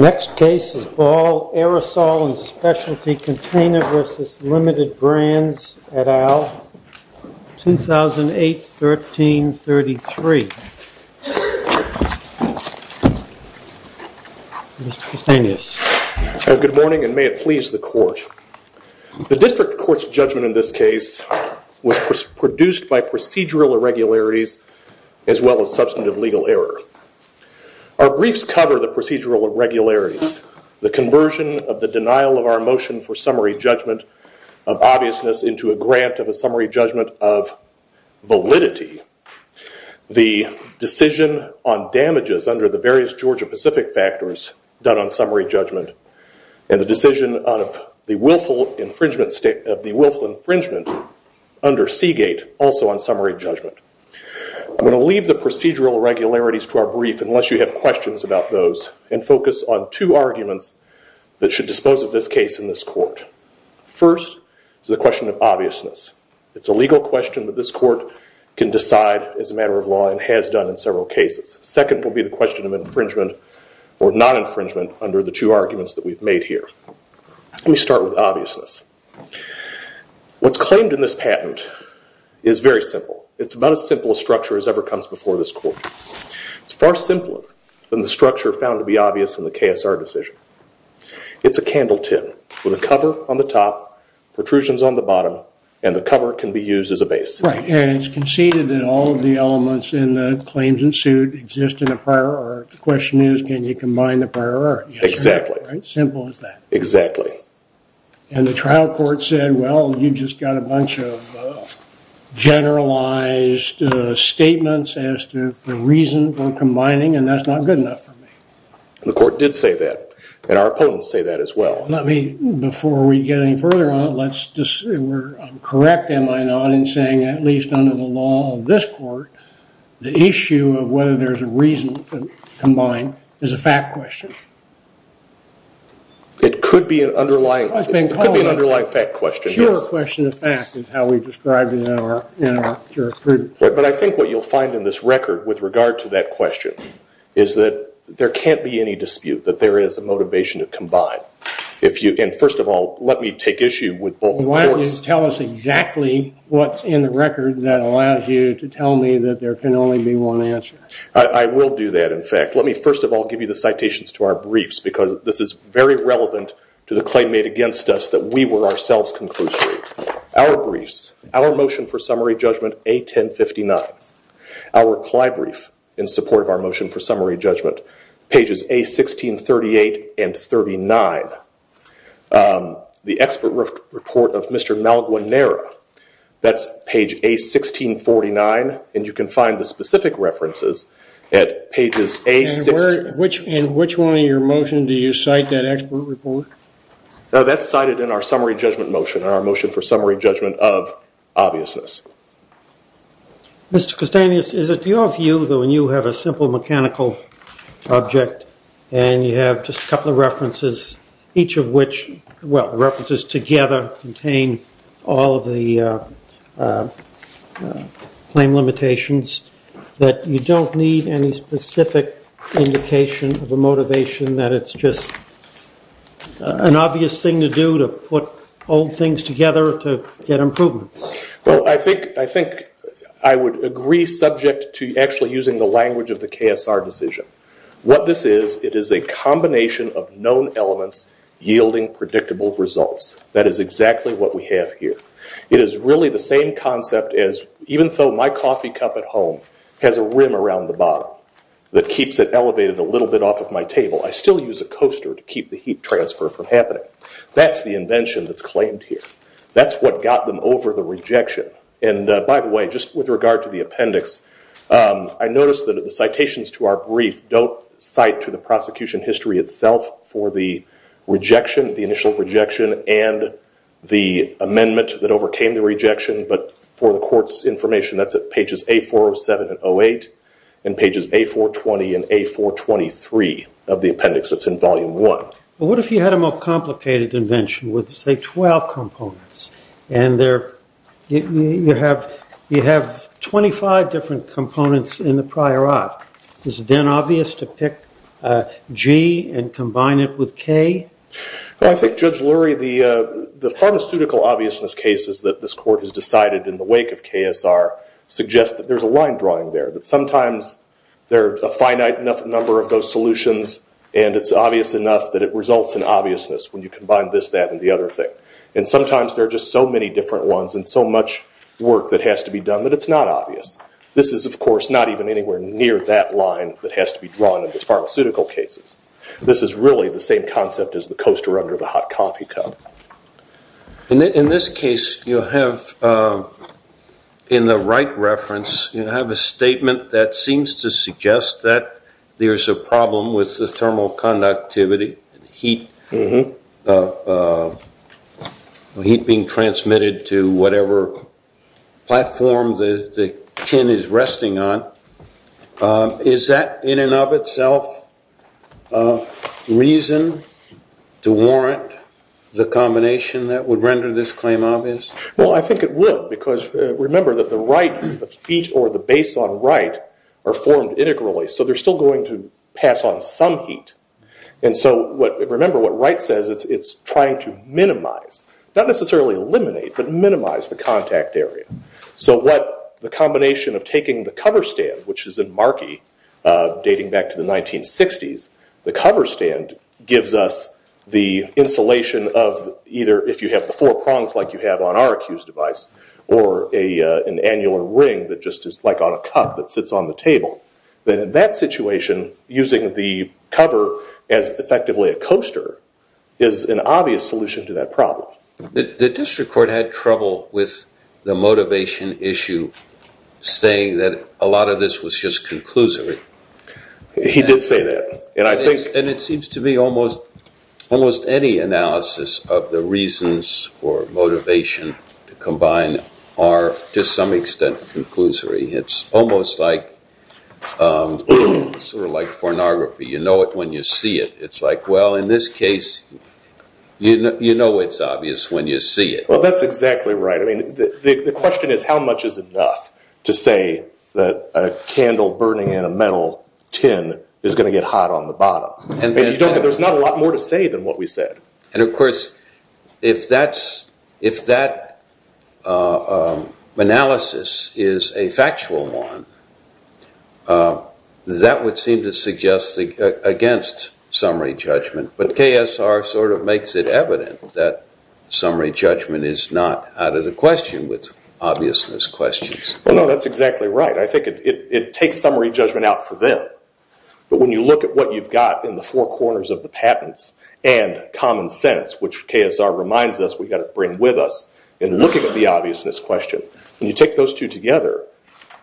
Next case is Ball Aerosol and Specialty Container v. Limited Brands et al. 2008-13-33 Good morning and may it please the court. The district court's judgment in this case was produced by procedural irregularities as well as substantive legal error. Our briefs cover the procedural irregularities, the conversion of the denial of our motion for summary judgment of obviousness into a grant of a summary judgment of validity, the decision on damages under the various Georgia Pacific factors done on summary judgment, and the decision of the willful infringement under Seagate also on summary judgment. I'm going to leave the procedural irregularities to our brief unless you have questions about those and focus on two arguments that should dispose of this case in this court. First is the question of obviousness. It's a legal question that this court can decide as a matter of law and has done in several cases. Second will be the question of infringement or non-infringement under the two arguments that we've made here. Let me start with obviousness. What's claimed in this patent is very simple. It's about as simple a structure as ever comes before this court. It's far simpler than the structure found to be obvious in the KSR decision. It's a candle tin with a cover on the top, protrusions on the bottom, and the cover can be used as a base. Right, and it's conceded that all of the elements in the claims in suit exist in a prior art. The question is can you combine the prior art? Exactly. Simple as that. Exactly. And the trial court said, well, you just got a bunch of generalized statements as to the reason for combining, and that's not good enough for me. The court did say that, and our opponents say that as well. Let me, before we get any further on it, let's just, I'm correct, am I not, in saying at least under the law of this court, the issue of whether there's a reason to combine is a fact question. It could be an underlying fact question. Sure question of fact is how we describe it in our jurisprudence. But I think what you'll find in this record with regard to that question is that there can't be any dispute that there is a motivation to combine. And first of all, let me take issue with both courts. Why don't you tell us exactly what's in the record that allows you to tell me that there can only be one answer? I will do that, in fact. Let me, first of all, give you the citations to our briefs, because this is very relevant to the claim made against us that we were ourselves conclusory. Our briefs, our motion for summary judgment, A1059. Our reply brief in support of our motion for summary judgment, pages A1638 and 39. The expert report of Mr. Malaguanera, that's page A1649, and you can find the specific references at pages A16. And which one of your motions do you cite that expert report? That's cited in our summary judgment motion, our motion for summary judgment of obviousness. Mr. Castanhas, is it your view that when you have a simple mechanical object and you have just a couple of references, each of which, well, references together contain all of the claim limitations, that you don't need any specific indication of a motivation that it's just an obvious thing to do to put old things together to get improvements? I think I would agree subject to actually using the language of the KSR decision. What this is, it is a combination of known elements yielding predictable results. That is exactly what we have here. It is really the same concept as even though my coffee cup at home has a rim around the bottom that keeps it elevated a little bit off of my table, I still use a coaster to keep the heat transfer from happening. That's the invention that's claimed here. That's what got them over the rejection. And by the way, just with regard to the appendix, I noticed that the citations to our brief don't cite to the prosecution history itself for the rejection, the initial rejection, and the amendment that overcame the rejection, but for the court's information, that's at pages A407 and 08, and pages A420 and A423 of the appendix that's in volume one. Well, what if you had a more complicated invention with, say, 12 components, and you have 25 different components in the prior art? Is it then obvious to pick G and combine it with K? Well, I think, Judge Lurie, the pharmaceutical obviousness cases that this court has decided in the wake of KSR suggest that there's a line drawing there, that sometimes there are a finite number of those solutions, and it's obvious enough that it results in obviousness when you combine this, that, and the other thing. And sometimes there are just so many different ones and so much work that has to be done that it's not obvious. This is, of course, not even anywhere near that line that has to be drawn in the pharmaceutical cases. This is really the same concept as the coaster under the hot coffee cup. In this case, you have, in the right reference, you have a statement that seems to suggest that there's a problem with the thermal conductivity, heat being transmitted to whatever platform the tin is resting on. Is that, in and of itself, a reason to warrant the combination that would render this claim obvious? Well, I think it would, because remember that the right, the feet or the base on right, are formed integrally, so they're still going to pass on some heat. And so, remember what right says, it's trying to minimize, not necessarily eliminate, but minimize the contact area. So what the combination of taking the cover stand, which is in Markey, dating back to the 1960s, the cover stand gives us the insulation of either, if you have the four prongs like you have on our accused device, or an annular ring that just is like on a cup that sits on the table. Then in that situation, using the cover as effectively a coaster is an obvious solution to that problem. The district court had trouble with the motivation issue, saying that a lot of this was just conclusory. He did say that. And I think... And it seems to be almost any analysis of the reasons for motivation to combine are to some extent conclusory. It's almost like, sort of like pornography. You know it when you see it. It's like, well, in this case, you know it's obvious when you see it. Well, that's exactly right. I mean, the question is, how much is enough to say that a candle burning in a metal tin is going to get hot on the bottom? There's not a lot more to say than what we said. And of course, if that analysis is a factual one, that would seem to suggest against some summary judgment. But KSR sort of makes it evident that summary judgment is not out of the question with obviousness questions. Well, no, that's exactly right. I think it takes summary judgment out for them. But when you look at what you've got in the four corners of the patents and common sense, which KSR reminds us we've got to bring with us in looking at the obviousness question, when you take those two together,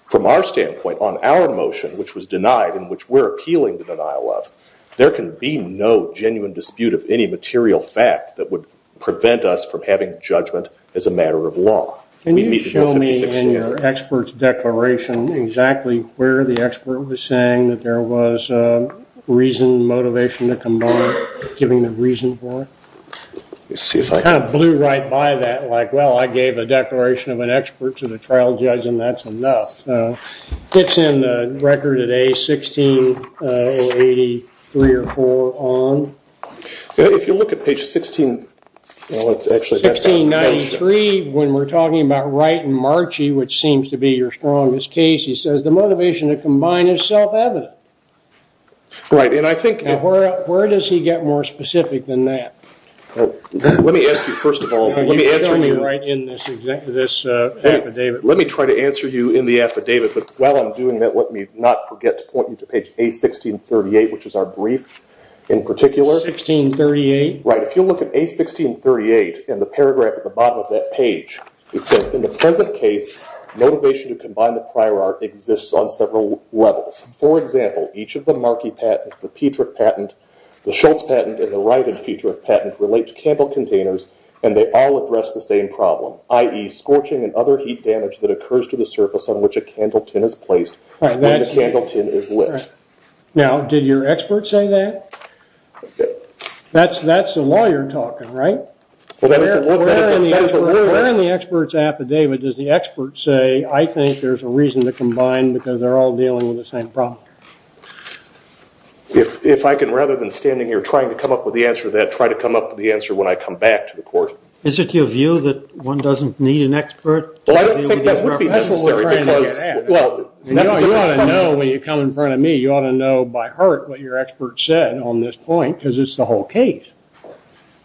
from our standpoint, on our motion, which was denied and which we're appealing the denial of, there can be no genuine dispute of any material fact that would prevent us from having judgment as a matter of law. Can you show me in your expert's declaration exactly where the expert was saying that there was reason, motivation to come by, giving a reason for it? It kind of blew right by that, like, well, I gave a declaration of an expert to the trial judge, and that's enough. It's in the record today, 1680, three or four on. If you look at page 16, well, it's actually 1693, when we're talking about Wright and Marchi, which seems to be your strongest case, he says the motivation to combine is self-evident. Right, and I think- Where does he get more specific than that? Let me ask you, first of all, let me answer you- You can show me right in this affidavit. Let me try to answer you in the affidavit, but while I'm doing that, let me not forget to point you to page A1638, which is our brief in particular. 1638? Right, if you look at A1638, in the paragraph at the bottom of that page, it says, in the present case, motivation to combine the prior art exists on several levels. For example, each of the Marchi patent, the Petrick patent, the Schultz patent, and the Wright and Petrick patent relate to Campbell containers, and they all address the same problem, i.e., scorching and other heat damage that occurs to the surface on which a candle tin is placed when the candle tin is lit. Now, did your expert say that? That's a lawyer talking, right? Well, that is a lawyer. Where in the expert's affidavit does the expert say, I think there's a reason to combine because they're all dealing with the same problem? If I can, rather than standing here trying to come up with the answer to that, I try to come up with the answer when I come back to the court. Is it your view that one doesn't need an expert to deal with these references? Well, I don't think that would be necessary because, well, that's a different question. You ought to know when you come in front of me, you ought to know by heart what your expert said on this point because it's the whole case.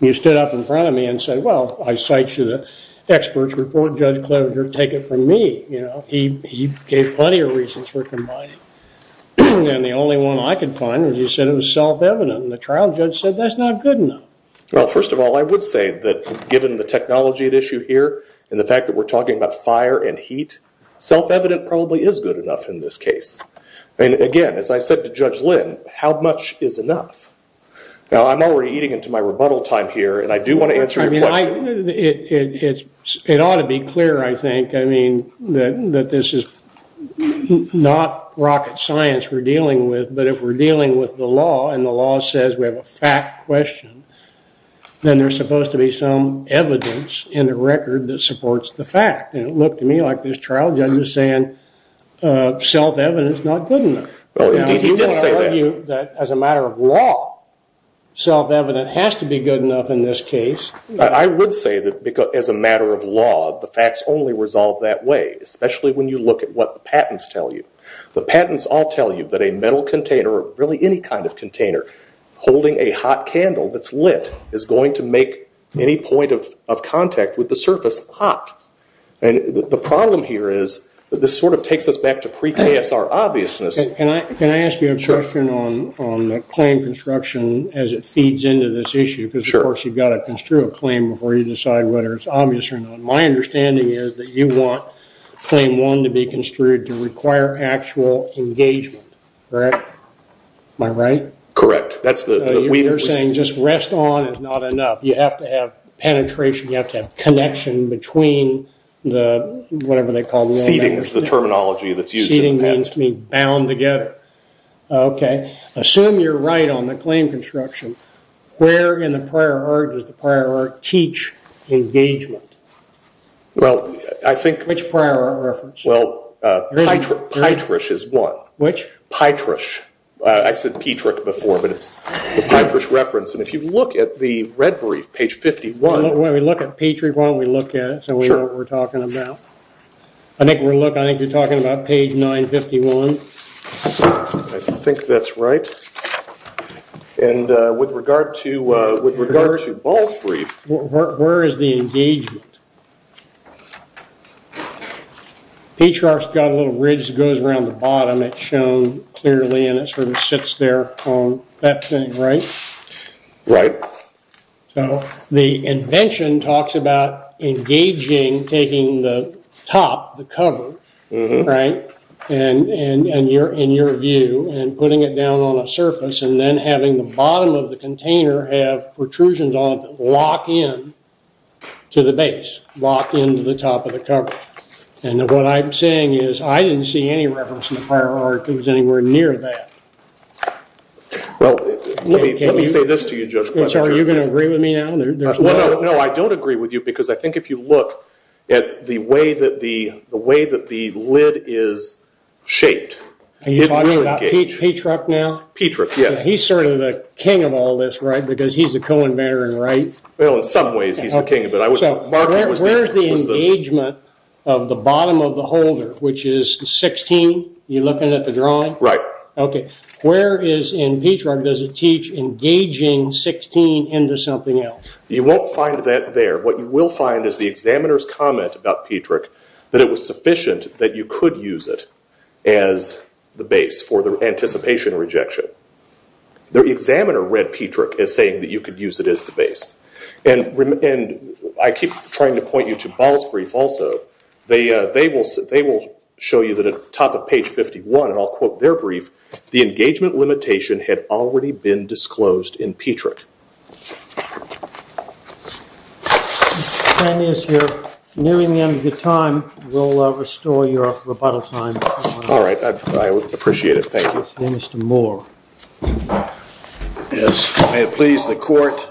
You stood up in front of me and said, well, I cite you the expert's report. Judge Closer, take it from me. He gave plenty of reasons for combining. And the only one I could find was you said it was self-evident. And the trial judge said that's not good enough. Well, first of all, I would say that given the technology at issue here and the fact that we're talking about fire and heat, self-evident probably is good enough in this case. And again, as I said to Judge Lynn, how much is enough? Now, I'm already eating into my rebuttal time here. And I do want to answer your question. It ought to be clear, I think, that this is not rocket science we're dealing with. But if we're dealing with the law and the law says we have a fact question, then there's supposed to be some evidence in the record that supports the fact. And it looked to me like this trial judge was saying, self-evident's not good enough. Well, indeed, he did say that. Now, I do want to tell you that as a matter of law, self-evident has to be good enough in this case. I would say that as a matter of law, the facts only resolve that way, especially when you look at what the patents tell you. The patents all tell you that a metal container, or really any kind of container, holding a hot candle that's lit is going to make any point of contact with the surface hot. And the problem here is that this sort of takes us back to pre-KSR obviousness. Can I ask you a question on the claim construction as it feeds into this issue? Because, of course, you've got to construe a claim before you decide whether it's obvious or not. My understanding is that you want claim one to be construed to require actual engagement, correct? Am I right? Correct. That's the... You're saying just rest on is not enough. You have to have penetration. You have to have connection between the, whatever they call... Seating is the terminology that's used in the patent. Seating means to be bound together. Okay. Assume you're right on the claim construction. Where in the prior art does the prior art teach engagement? Well, I think... Which prior art reference? Well, Pytrush is one. Which? Pytrush. I said Pytrush before, but it's the Pytrush reference. And if you look at the red brief, page 51... When we look at Pytrush, why don't we look at it so we know what we're talking about? I think we're looking, I think you're talking about page 951. I think that's right. And with regard to Ball's brief... Where is the engagement? Pytrush got a little ridge that goes around the bottom. It's shown clearly and it sort of sits there on that thing, right? Right. So the invention talks about engaging, taking the top, the cover, right? And your view and putting it down on a surface and then having the bottom of the container have protrusions on it that lock in to the base. Lock in to the top of the cover. And what I'm saying is I didn't see any reference in the prior art that was anywhere near that. Well, let me say this to you, Judge. Are you going to agree with me now? No, I don't agree with you because I think if you look at the way that the lid is shaped... Are you talking about Pytrush now? Pytrush, yes. He's sort of the king of all this, right? Because he's the co-inventor, right? Well, in some ways he's the king of it. Where's the engagement of the bottom of the holder, which is 16? You're looking at the drawing? Right. Okay, where is in Pytrush does it teach engaging 16 into something else? You won't find that there. What you will find is the examiner's comment about Pytrush that it was sufficient that you could use it as the base for the anticipation rejection. The examiner read Pytrush as saying that you could use it as the base. And I keep trying to point you to Ball's brief also. They will show you that at the top of page 51, and I'll quote their brief, the engagement limitation had already been disclosed in Pytrush. Mr. Tannius, you're nearing the end of your time. We'll restore your rebuttal time. All right, I would appreciate it. Thank you. Mr. Moore. Yes, may it please the court.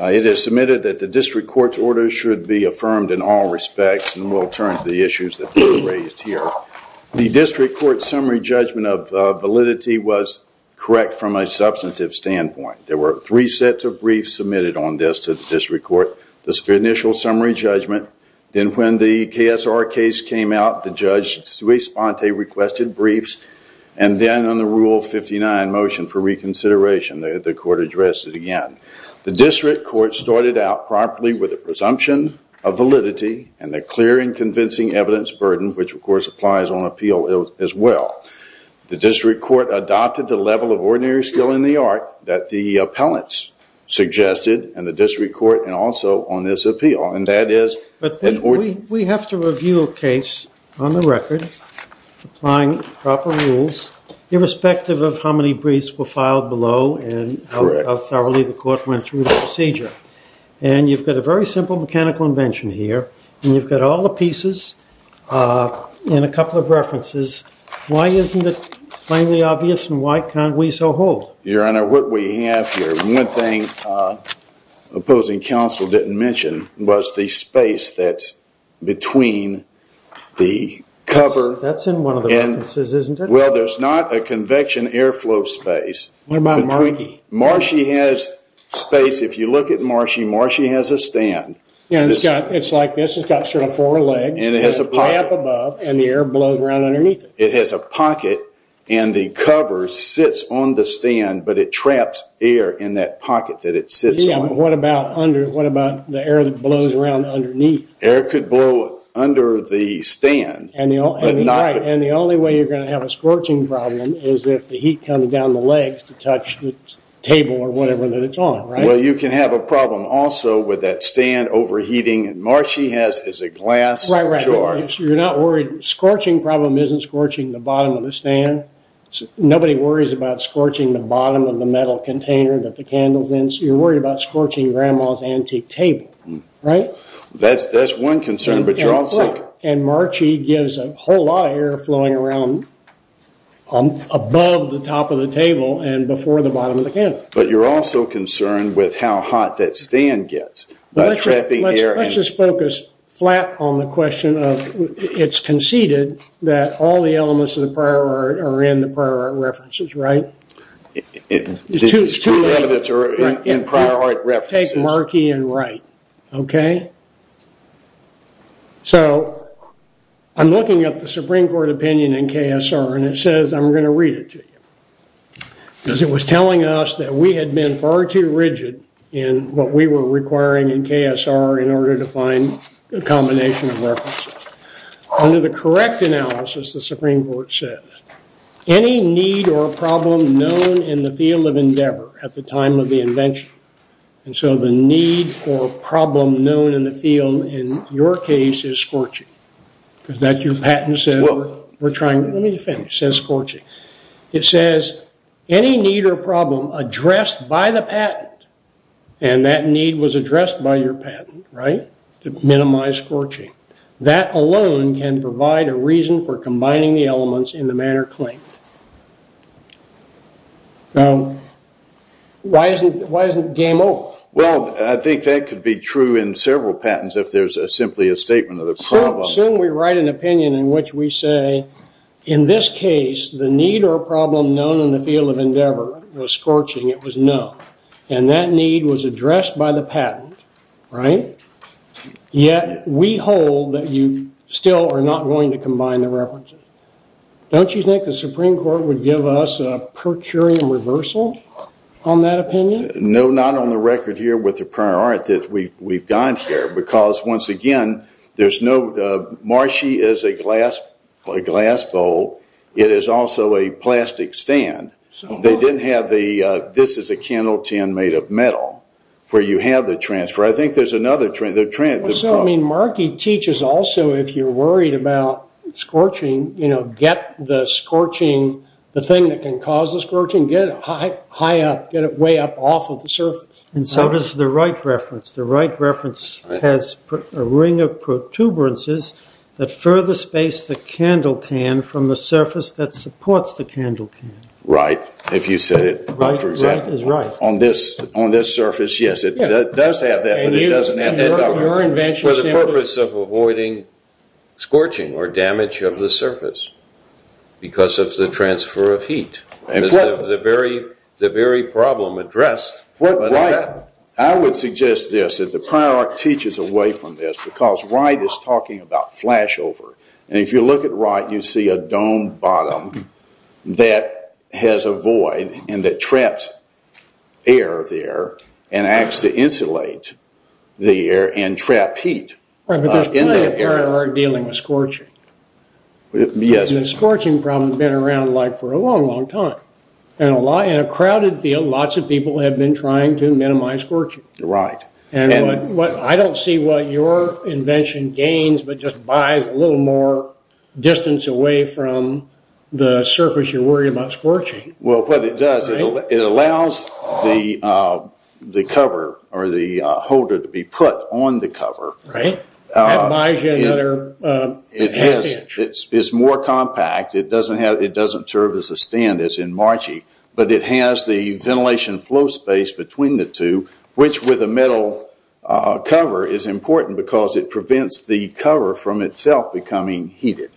It is submitted that the district court's order should be affirmed in all respects. And we'll turn to the issues that were raised here. The district court summary judgment of validity was correct from a substantive standpoint. There were three sets of briefs submitted on this to the district court. The initial summary judgment, then when the KSR case came out, the judge sui sponte requested briefs. And then on the rule 59 motion for reconsideration, the court addressed it again. The district court started out promptly with a presumption of validity and a clear and convincing evidence burden, which, of course, applies on appeal as well. The district court adopted the level of ordinary skill in the art that the appellants suggested, and the district court and also on this appeal. And that is- But we have to review a case on the record applying proper rules, irrespective of how many briefs were filed below and how thoroughly the court went through the procedure. And you've got a very simple mechanical invention here. And you've got all the pieces in a couple of references. Why isn't it plainly obvious and why can't we so hold? Your Honor, what we have here, one thing opposing counsel didn't mention was the space that's between the cover- That's in one of the references, isn't it? Well, there's not a convection airflow space. What about marshy? Marshy has space. If you look at marshy, marshy has a stand. Yeah, it's like this. It's got sort of four legs. And it has a pocket. It's high up above, and the air blows around underneath it. It has a pocket, and the cover sits on the stand, but it traps air in that pocket that it sits on. Yeah, but what about the air that blows around underneath? Air could blow under the stand. Right, and the only way you're going to have a scorching problem is if the heat comes down the legs to touch the table or whatever that it's on, right? Well, you can have a problem also with that stand overheating. And marshy has a glass drawer. You're not worried. Scorching problem isn't scorching the bottom of the stand. Nobody worries about scorching the bottom of the metal container that the candle's in. You're worried about scorching grandma's antique table, right? That's one concern, but you're also- There's a whole lot of air flowing around above the top of the table and before the bottom of the candle. But you're also concerned with how hot that stand gets by trapping air in- Let's just focus flat on the question of, it's conceded that all the elements of the prior art are in the prior art references, right? It's too late. The evidence are in prior art references. Take murky and right, okay? So, I'm looking at the Supreme Court opinion in KSR and it says, I'm going to read it to you. Because it was telling us that we had been far too rigid in what we were requiring in KSR in order to find a combination of references. Under the correct analysis, the Supreme Court says, any need or problem known in the field of endeavor at the time of the invention. And so, the need or problem known in the field in your case is scorching. Is that your patent says we're trying- Let me finish. It says scorching. It says, any need or problem addressed by the patent, and that need was addressed by your patent, right? Minimize scorching. That alone can provide a reason for combining the elements in the manner claimed. Why isn't the game over? Well, I think that could be true in several patents if there's simply a statement of the problem. Soon we write an opinion in which we say, in this case, the need or problem known in the field of endeavor was scorching. It was no. And that need was addressed by the patent, right? Yet, we hold that you still are not going to combine the references. Don't you think the Supreme Court would give us a per curiam reversal on that opinion? No, not on the record here with the prior art that we've gone through. Because, once again, there's no- Marshy is a glass bowl. It is also a plastic stand. They didn't have the- This is a candle tin made of metal, where you have the transfer. I think there's another- So, I mean, Markey teaches also, if you're worried about scorching, you know, get the scorching, the thing that can cause the scorching, get it high up, get it way up off of the surface. And so does the Wright reference. The Wright reference has a ring of protuberances that further space the candle tin from the surface that supports the candle tin. Right. If you said it, for example, on this surface, yes, it does have that, but it doesn't have that- For the purpose of avoiding scorching or damage of the surface because of the transfer of heat. The very problem addressed. I would suggest this, that the prior art teaches away from this because Wright is talking about flashover. And if you look at Wright, you see a dome bottom that has a void and that traps air there and acts to insulate the air and trap heat. Right, but there's plenty of prior art dealing with scorching. Yes. The scorching problem has been around for a long, long time. In a crowded field, lots of people have been trying to minimize scorching. Right. I don't see what your invention gains, but just buys a little more distance away from the surface you're worried about scorching. Well, what it does, it allows the cover or the holder to be put on the cover. Right. That buys you another half inch. It's more compact. It doesn't serve as a stand as in Marchie, but it has the ventilation flow space between the two, which with a metal cover is important because it prevents the cover from itself becoming heated.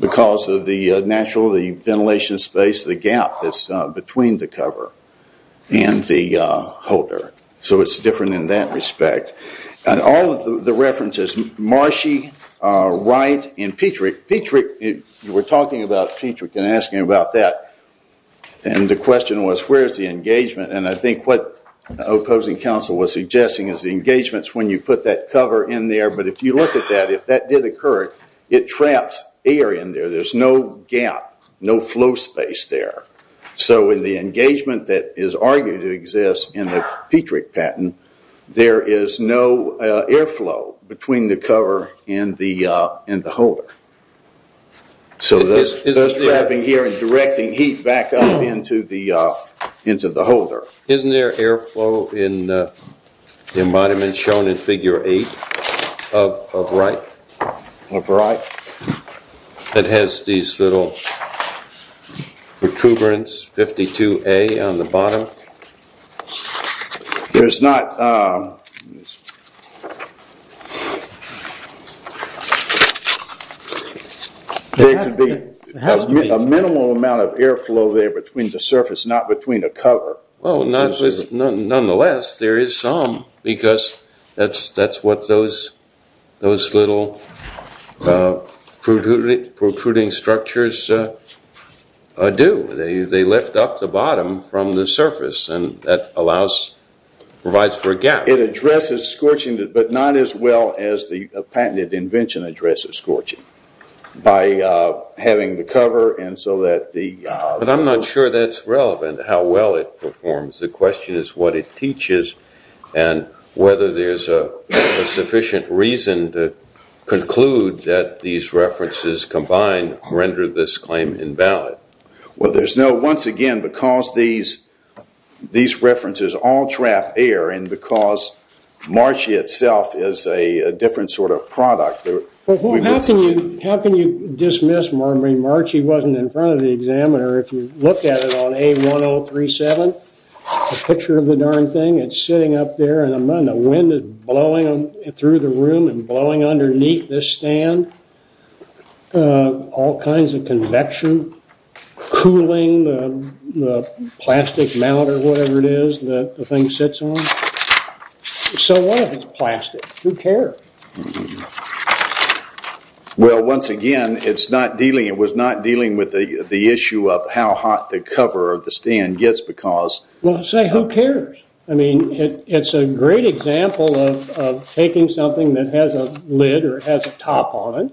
Because of the natural ventilation space, the gap that's between the cover and the holder. So it's different in that respect. And all of the references, Marchie, Wright and Petrick, Petrick, we're talking about Petrick and asking about that. And the question was, where's the engagement? And I think what the opposing counsel was suggesting is the engagement is when you put that cover in there. But if you look at that, if that did occur, it traps air in there. There's no gap, no flow space there. So in the engagement that is argued to exist in the Petrick patent, there is no airflow between the cover and the holder. So this wrapping here is directing heat back up into the holder. Isn't there airflow in the embodiment shown in figure 8 of Wright? Of Wright? That has these little protuberance 52A on the bottom? There's not... There could be a minimal amount of airflow there between the surface, not between the cover. Well, nonetheless, there is some. Because that's what those little protruding structures do. They lift up the bottom from the surface and that provides for a gap. It addresses scorching, but not as well as the patented invention addresses scorching. By having the cover and so that the... But I'm not sure that's relevant, how well it performs. The question is what it teaches and whether there's a sufficient reason to conclude that these references combined render this claim invalid. Well, there's no... Once again, because these references all trap air and because Marci itself is a different sort of product... How can you dismiss Marci? Marci wasn't in front of the examiner. If you look at it on A1037, a picture of the darn thing, it's sitting up there and the wind is blowing through the room and blowing underneath this stand. All kinds of convection, cooling, the plastic mount or whatever it is that the thing sits on. So what if it's plastic? Who cares? Well, once again, it's not dealing... It was not dealing with the issue of how hot the cover of the stand gets because... Well, say, who cares? I mean, it's a great example of taking something that has a lid or has a top on it.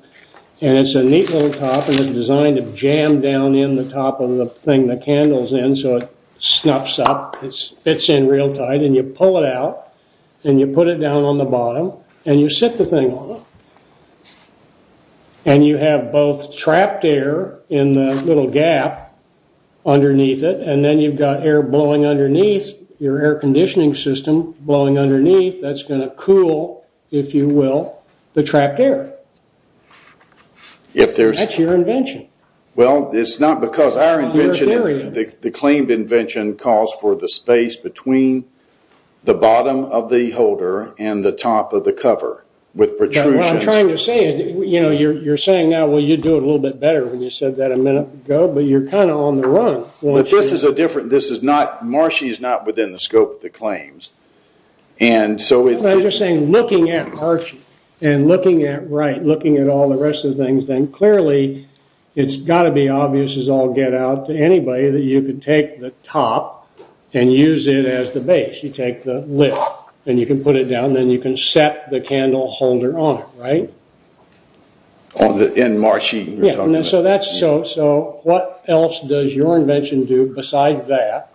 And it's a neat little top and it's designed to jam down in the top of the thing the candle's in so it snuffs up. It fits in real tight and you pull it out and you put it down on the bottom and you sit the thing on it. And you have both trapped air in the little gap underneath it and then you've got air blowing underneath your air conditioning system. Blowing underneath, that's going to cool, if you will, the trapped air. That's your invention. Well, it's not because our invention, the claimed invention calls for the space between the bottom of the holder and the top of the cover. What I'm trying to say is, you know, you're saying now, well, you'd do it a little bit better when you said that a minute ago, but you're kind of on the run. Well, this is a different... This is not... Marshy is not within the scope of the claims. And so it's... I'm just saying, looking at Marshy and looking at Wright, looking at all the rest of the things, then clearly it's got to be obvious as all get out to anybody that you could take the top and use it as the base. You take the lid and you can put it down and then you can set the candle holder on it, right? In Marshy, you're talking about? Yeah. So that's... So what else does your invention do besides that?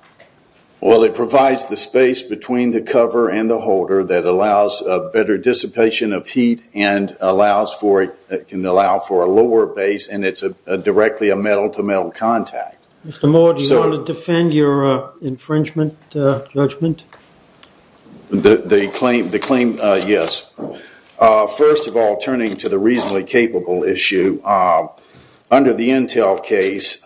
Well, it provides the space between the cover and the holder that allows a better dissipation of heat and allows for... It can allow for a lower base and it's directly a metal-to-metal contact. Mr. Moore, do you want to defend your infringement judgment? The claim, yes. First of all, turning to the reasonably capable issue, under the Intel case,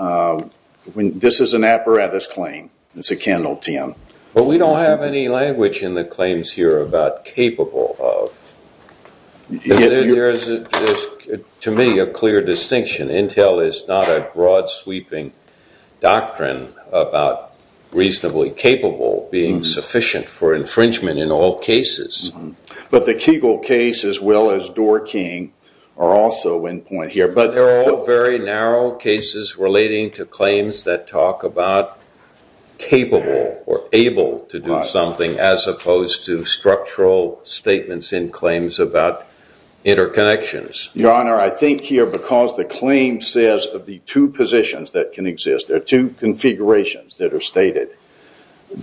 this is an apparatus claim. It's a candle tin. But we don't have any language in the claims here about capable of. There is, to me, a clear distinction. Intel is not a broad-sweeping doctrine about reasonably capable being sufficient for infringement in all cases. But the Kegel case as well as Doerr-King are also in point here. But they're all very narrow cases relating to claims that talk about capable or able to do something as opposed to structural statements in claims about interconnections. Your Honor, I think here because the claim says of the two positions that can exist, there are two configurations that are stated,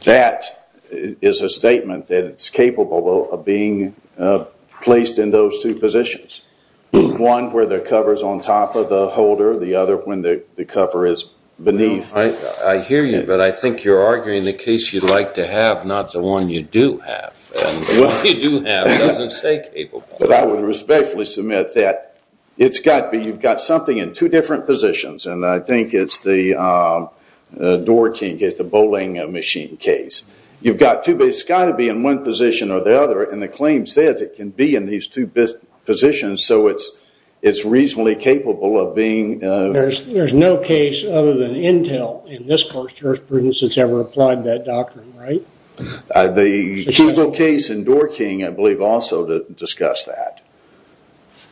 that is a statement that it's capable of being placed in those two positions. One where the cover's on top of the holder, the other when the cover is beneath. I hear you, but I think you're arguing the case you'd like to have, not the one you do have. The one you do have doesn't say capable. But I would respectfully submit that it's got to be, you've got something in two different positions. And I think it's the Doerr-King case, the bowling machine case. You've got two, but it's got to be in one position or the other. And the claim says it can be in these two positions, so it's reasonably capable of being... There's no case other than Intel in this court's jurisprudence that's ever applied that doctrine, right? The Kugel case and Doerr-King I believe also discuss that.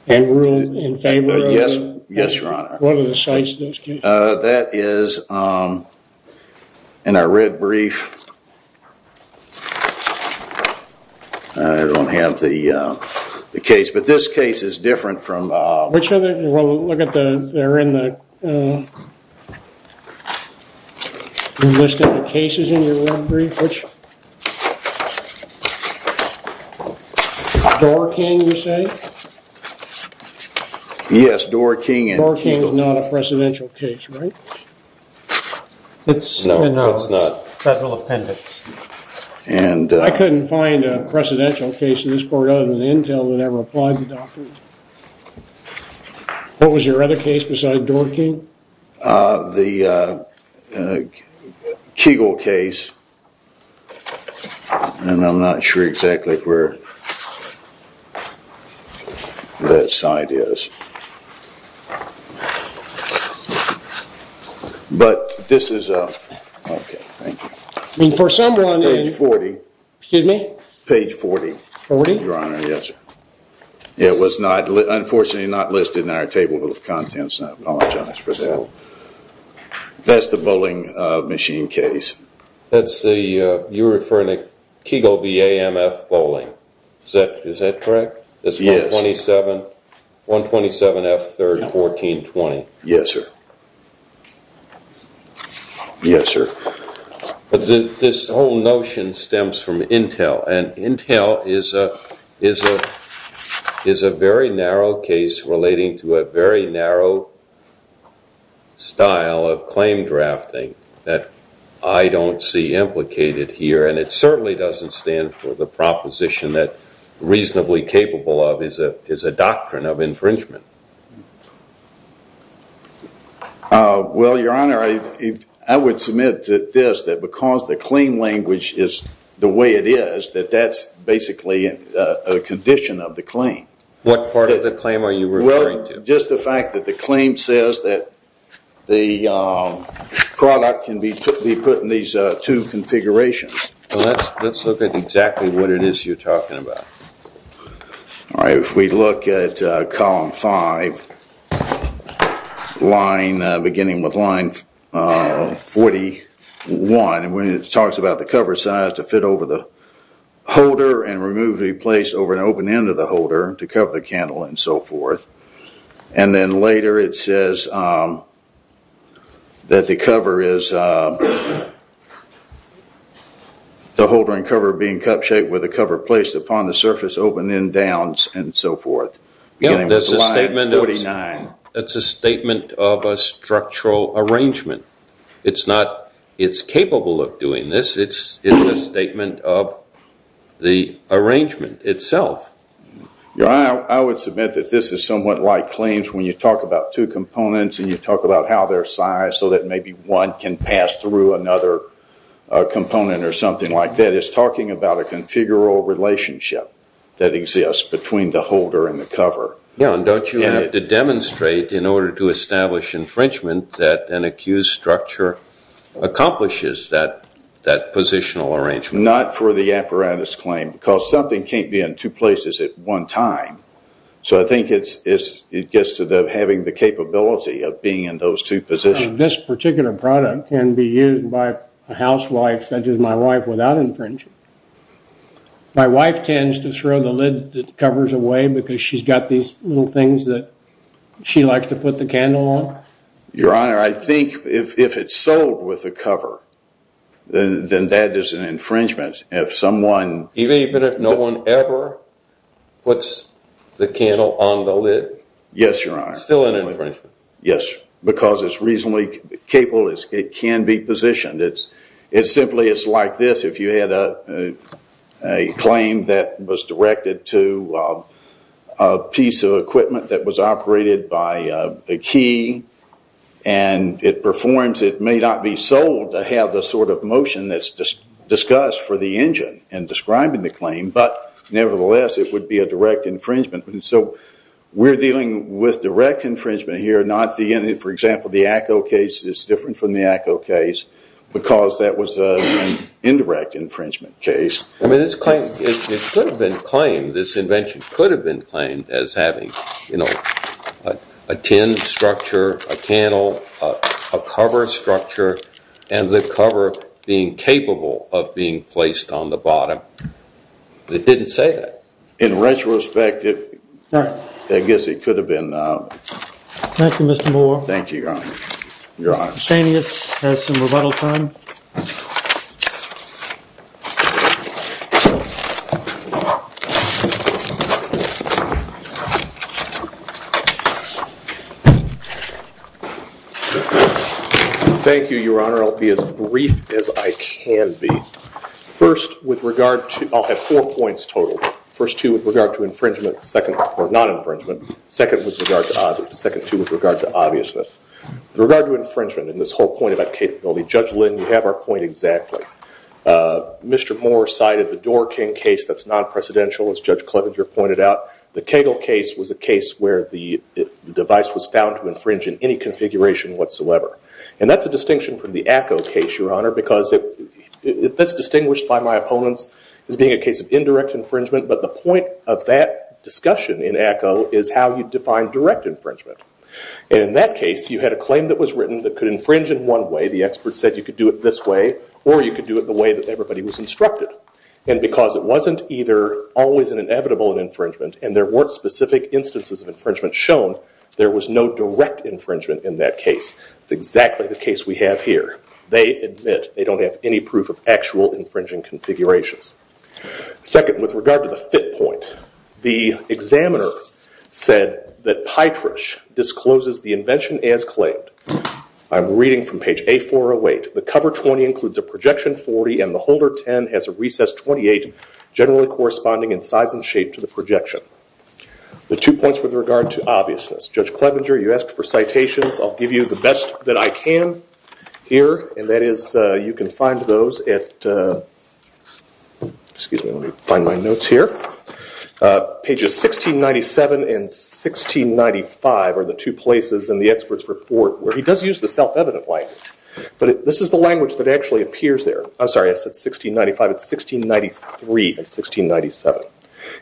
And rule in favor of... Yes, Your Honor. What are the sites of those cases? That is in our red brief. I don't have the case, but this case is different from... They're in the list of the cases in your red brief, which... Doerr-King, you say? Yes, Doerr-King and Kugel. Doerr-King is not a precedential case, right? No, it's not. Federal appendix. I couldn't find a precedential case in this court other than Intel that ever applied the doctrine. What was your other case besides Doerr-King? The Kugel case, and I'm not sure exactly where that site is. But this is... Okay, thank you. For someone... Page 40. Excuse me? Page 40. 40? Your Honor, yes, sir. It was unfortunately not listed in our table of contents, and I apologize for that. That's the bowling machine case. You're referring to Kugel v. A.M.F. bowling. Is that correct? Yes. It's 127 F. 3rd, 1420. Yes, sir. But this whole notion stems from Intel, and Intel is a very narrow case relating to a very narrow style of claim drafting that I don't see implicated here, and it certainly doesn't stand for the proposition that reasonably capable of is a doctrine of infringement. Well, Your Honor, I would submit to this that because the claim language is the way it is, that that's basically a condition of the claim. What part of the claim are you referring to? Well, just the fact that the claim says that the product can be put in these two configurations. Well, let's look at exactly what it is you're talking about. All right. If we look at column 5, beginning with line 41, when it talks about the cover size to fit over the holder and removed to be placed over an open end of the holder to cover the candle and so forth, and then later it says that the cover is the holder and cover being placed upon the surface open end downs and so forth. That's a statement of a structural arrangement. It's not it's capable of doing this. It's a statement of the arrangement itself. Your Honor, I would submit that this is somewhat like claims when you talk about two components and you talk about how they're sized so that maybe one can pass through another component or something like that. It's talking about a configurable relationship that exists between the holder and the cover. Don't you have to demonstrate in order to establish infringement that an accused structure accomplishes that positional arrangement? Not for the apparatus claim because something can't be in two places at one time. So I think it gets to having the capability of being in those two positions. This particular product can be used by a housewife such as my wife without infringement. My wife tends to throw the lid covers away because she's got these little things that she likes to put the candle on. Your Honor, I think if it's sold with a cover, then that is an infringement. Even if no one ever puts the candle on the lid? Yes, Your Honor. Still an infringement? Yes, because it's reasonably capable. It can be positioned. It's simply like this. If you had a claim that was directed to a piece of equipment that was operated by a key and it performs, it may not be sold to have the sort of motion that's discussed for the engine in describing the claim, but nevertheless it would be a direct infringement. So we're dealing with direct infringement here. For example, the ACO case is different from the ACO case because that was an indirect infringement case. It could have been claimed, this invention could have been claimed as having a tin structure, a candle, a cover structure, and the cover being capable of being placed on the bottom. It didn't say that. In retrospect, I guess it could have been. Thank you, Mr. Moore. Thank you, Your Honor. Your Honor. Stanius has some rebuttal time. Thank you, Your Honor. I'll be as brief as I can be. First, with regard to, I'll have four points total. First two with regard to infringement, or non-infringement. Second two with regard to obviousness. With regard to infringement and this whole point about capability, Judge Lynn, you have our point exactly. Mr. Moore cited the Doorkin case that's non-presidential, as Judge Clevenger pointed out. The Kegel case was a case where the device was found to infringe in any configuration whatsoever. And that's a distinction from the Acko case, Your Honor, because that's distinguished by my opponents as being a case of indirect infringement. But the point of that discussion in Acko is how you define direct infringement. And in that case, you had a claim that was written that could infringe in one way. The expert said you could do it this way, or you could do it the way that everybody was instructed. And because it wasn't either always an inevitable infringement, and there weren't specific instances of infringement shown, there was no direct infringement in that case. That's exactly the case we have here. They admit they don't have any proof of actual infringing configurations. Second, with regard to the fit point, the examiner said that Pytrish discloses the invention as claimed. I'm reading from page A408. The cover 20 includes a projection 40, and the holder 10 has a recess 28, generally corresponding in size and shape to the projection. The two points with regard to obviousness. Judge Clevenger, you asked for citations. I'll give you the best that I can here. And that is you can find those at, excuse me, let me find my notes here. Pages 1697 and 1695 are the two places in the expert's report where he does use the self-evident line. But this is the language that actually appears there. I'm sorry, I said 1695. It's 1693 and 1697.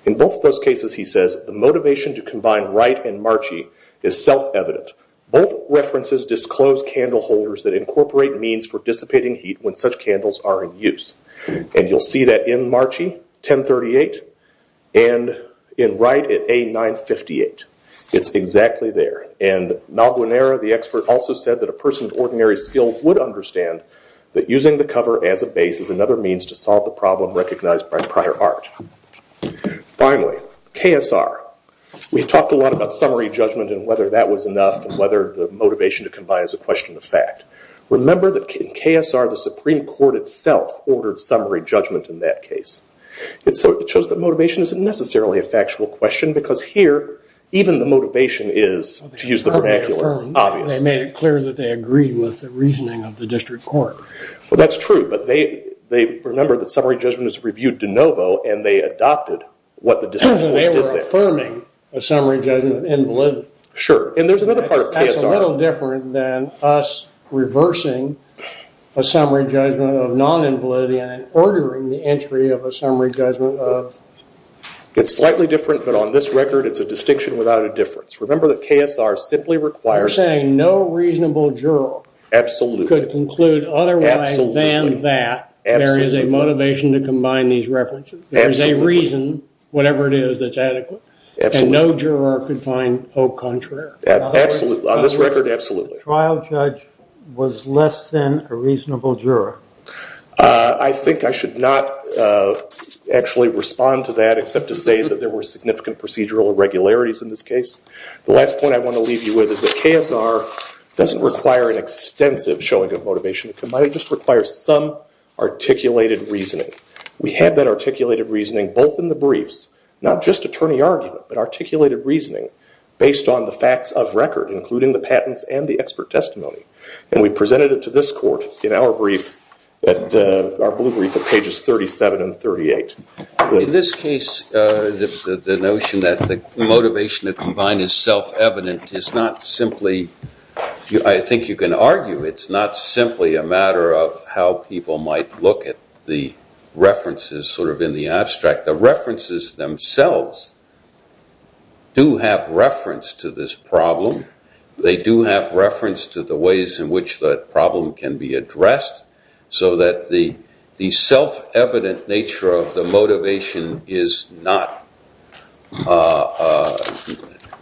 In both of those cases, he says, the motivation to combine Wright and Marchi is self-evident. Both references disclose candle holders that incorporate means for dissipating heat when such candles are in use. And you'll see that in Marchi, 1038, and in Wright at A958. It's exactly there. And Malbuenera, the expert, also said that a person of ordinary skill would understand that using the cover as a base is another means to solve the problem recognized by prior art. Finally, KSR. We've talked a lot about summary judgment and whether that was enough and whether the motivation to combine is a question of fact. Remember that in KSR, the Supreme Court itself ordered summary judgment in that case. So it shows that motivation isn't necessarily a factual question because here, even the motivation is, to use the vernacular, obvious. They made it clear that they agreed with the reasoning of the district court. That's true, but they remember that summary judgment is reviewed de novo and they adopted what the district court did there. They were affirming a summary judgment of invalidity. Sure. And there's another part of KSR. That's a little different than us reversing a summary judgment of non-invalidity and ordering the entry of a summary judgment of... It's slightly different, but on this record, it's a distinction without a difference. Remember that KSR simply requires... So you're saying no reasonable juror... Absolutely. ...could conclude otherwise than that there is a motivation to combine these references. Absolutely. There is a reason, whatever it is, that's adequate. Absolutely. And no juror could find hope contrary. Absolutely. On this record, absolutely. The trial judge was less than a reasonable juror. I think I should not actually respond to that except to say that there were significant procedural irregularities in this case. The last point I want to leave you with is that KSR doesn't require an extensive showing of motivation. It might just require some articulated reasoning. We had that articulated reasoning both in the briefs, not just attorney argument, but articulated reasoning based on the facts of record, including the patents and the expert testimony. And we presented it to this court in our brief, our blue brief, at pages 37 and 38. In this case, the notion that the motivation to combine is self-evident is not simply... I think you can argue it's not simply a matter of how people might look at the references sort of in the abstract. The references themselves do have reference to this problem. They do have reference to the ways in which the problem can be addressed so that the self-evident nature of the motivation is not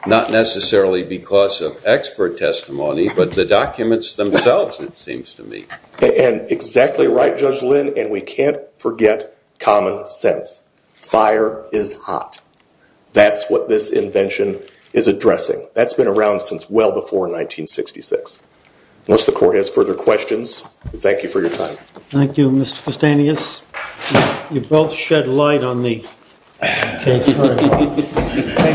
necessarily because of expert testimony, but the documents themselves, it seems to me. And exactly right, Judge Lynn, and we can't forget common sense. Fire is hot. That's what this invention is addressing. That's been around since well before 1966. Unless the court has further questions, thank you for your time. Thank you, Mr. Kostanius. You both shed light on the case. Sorry about that.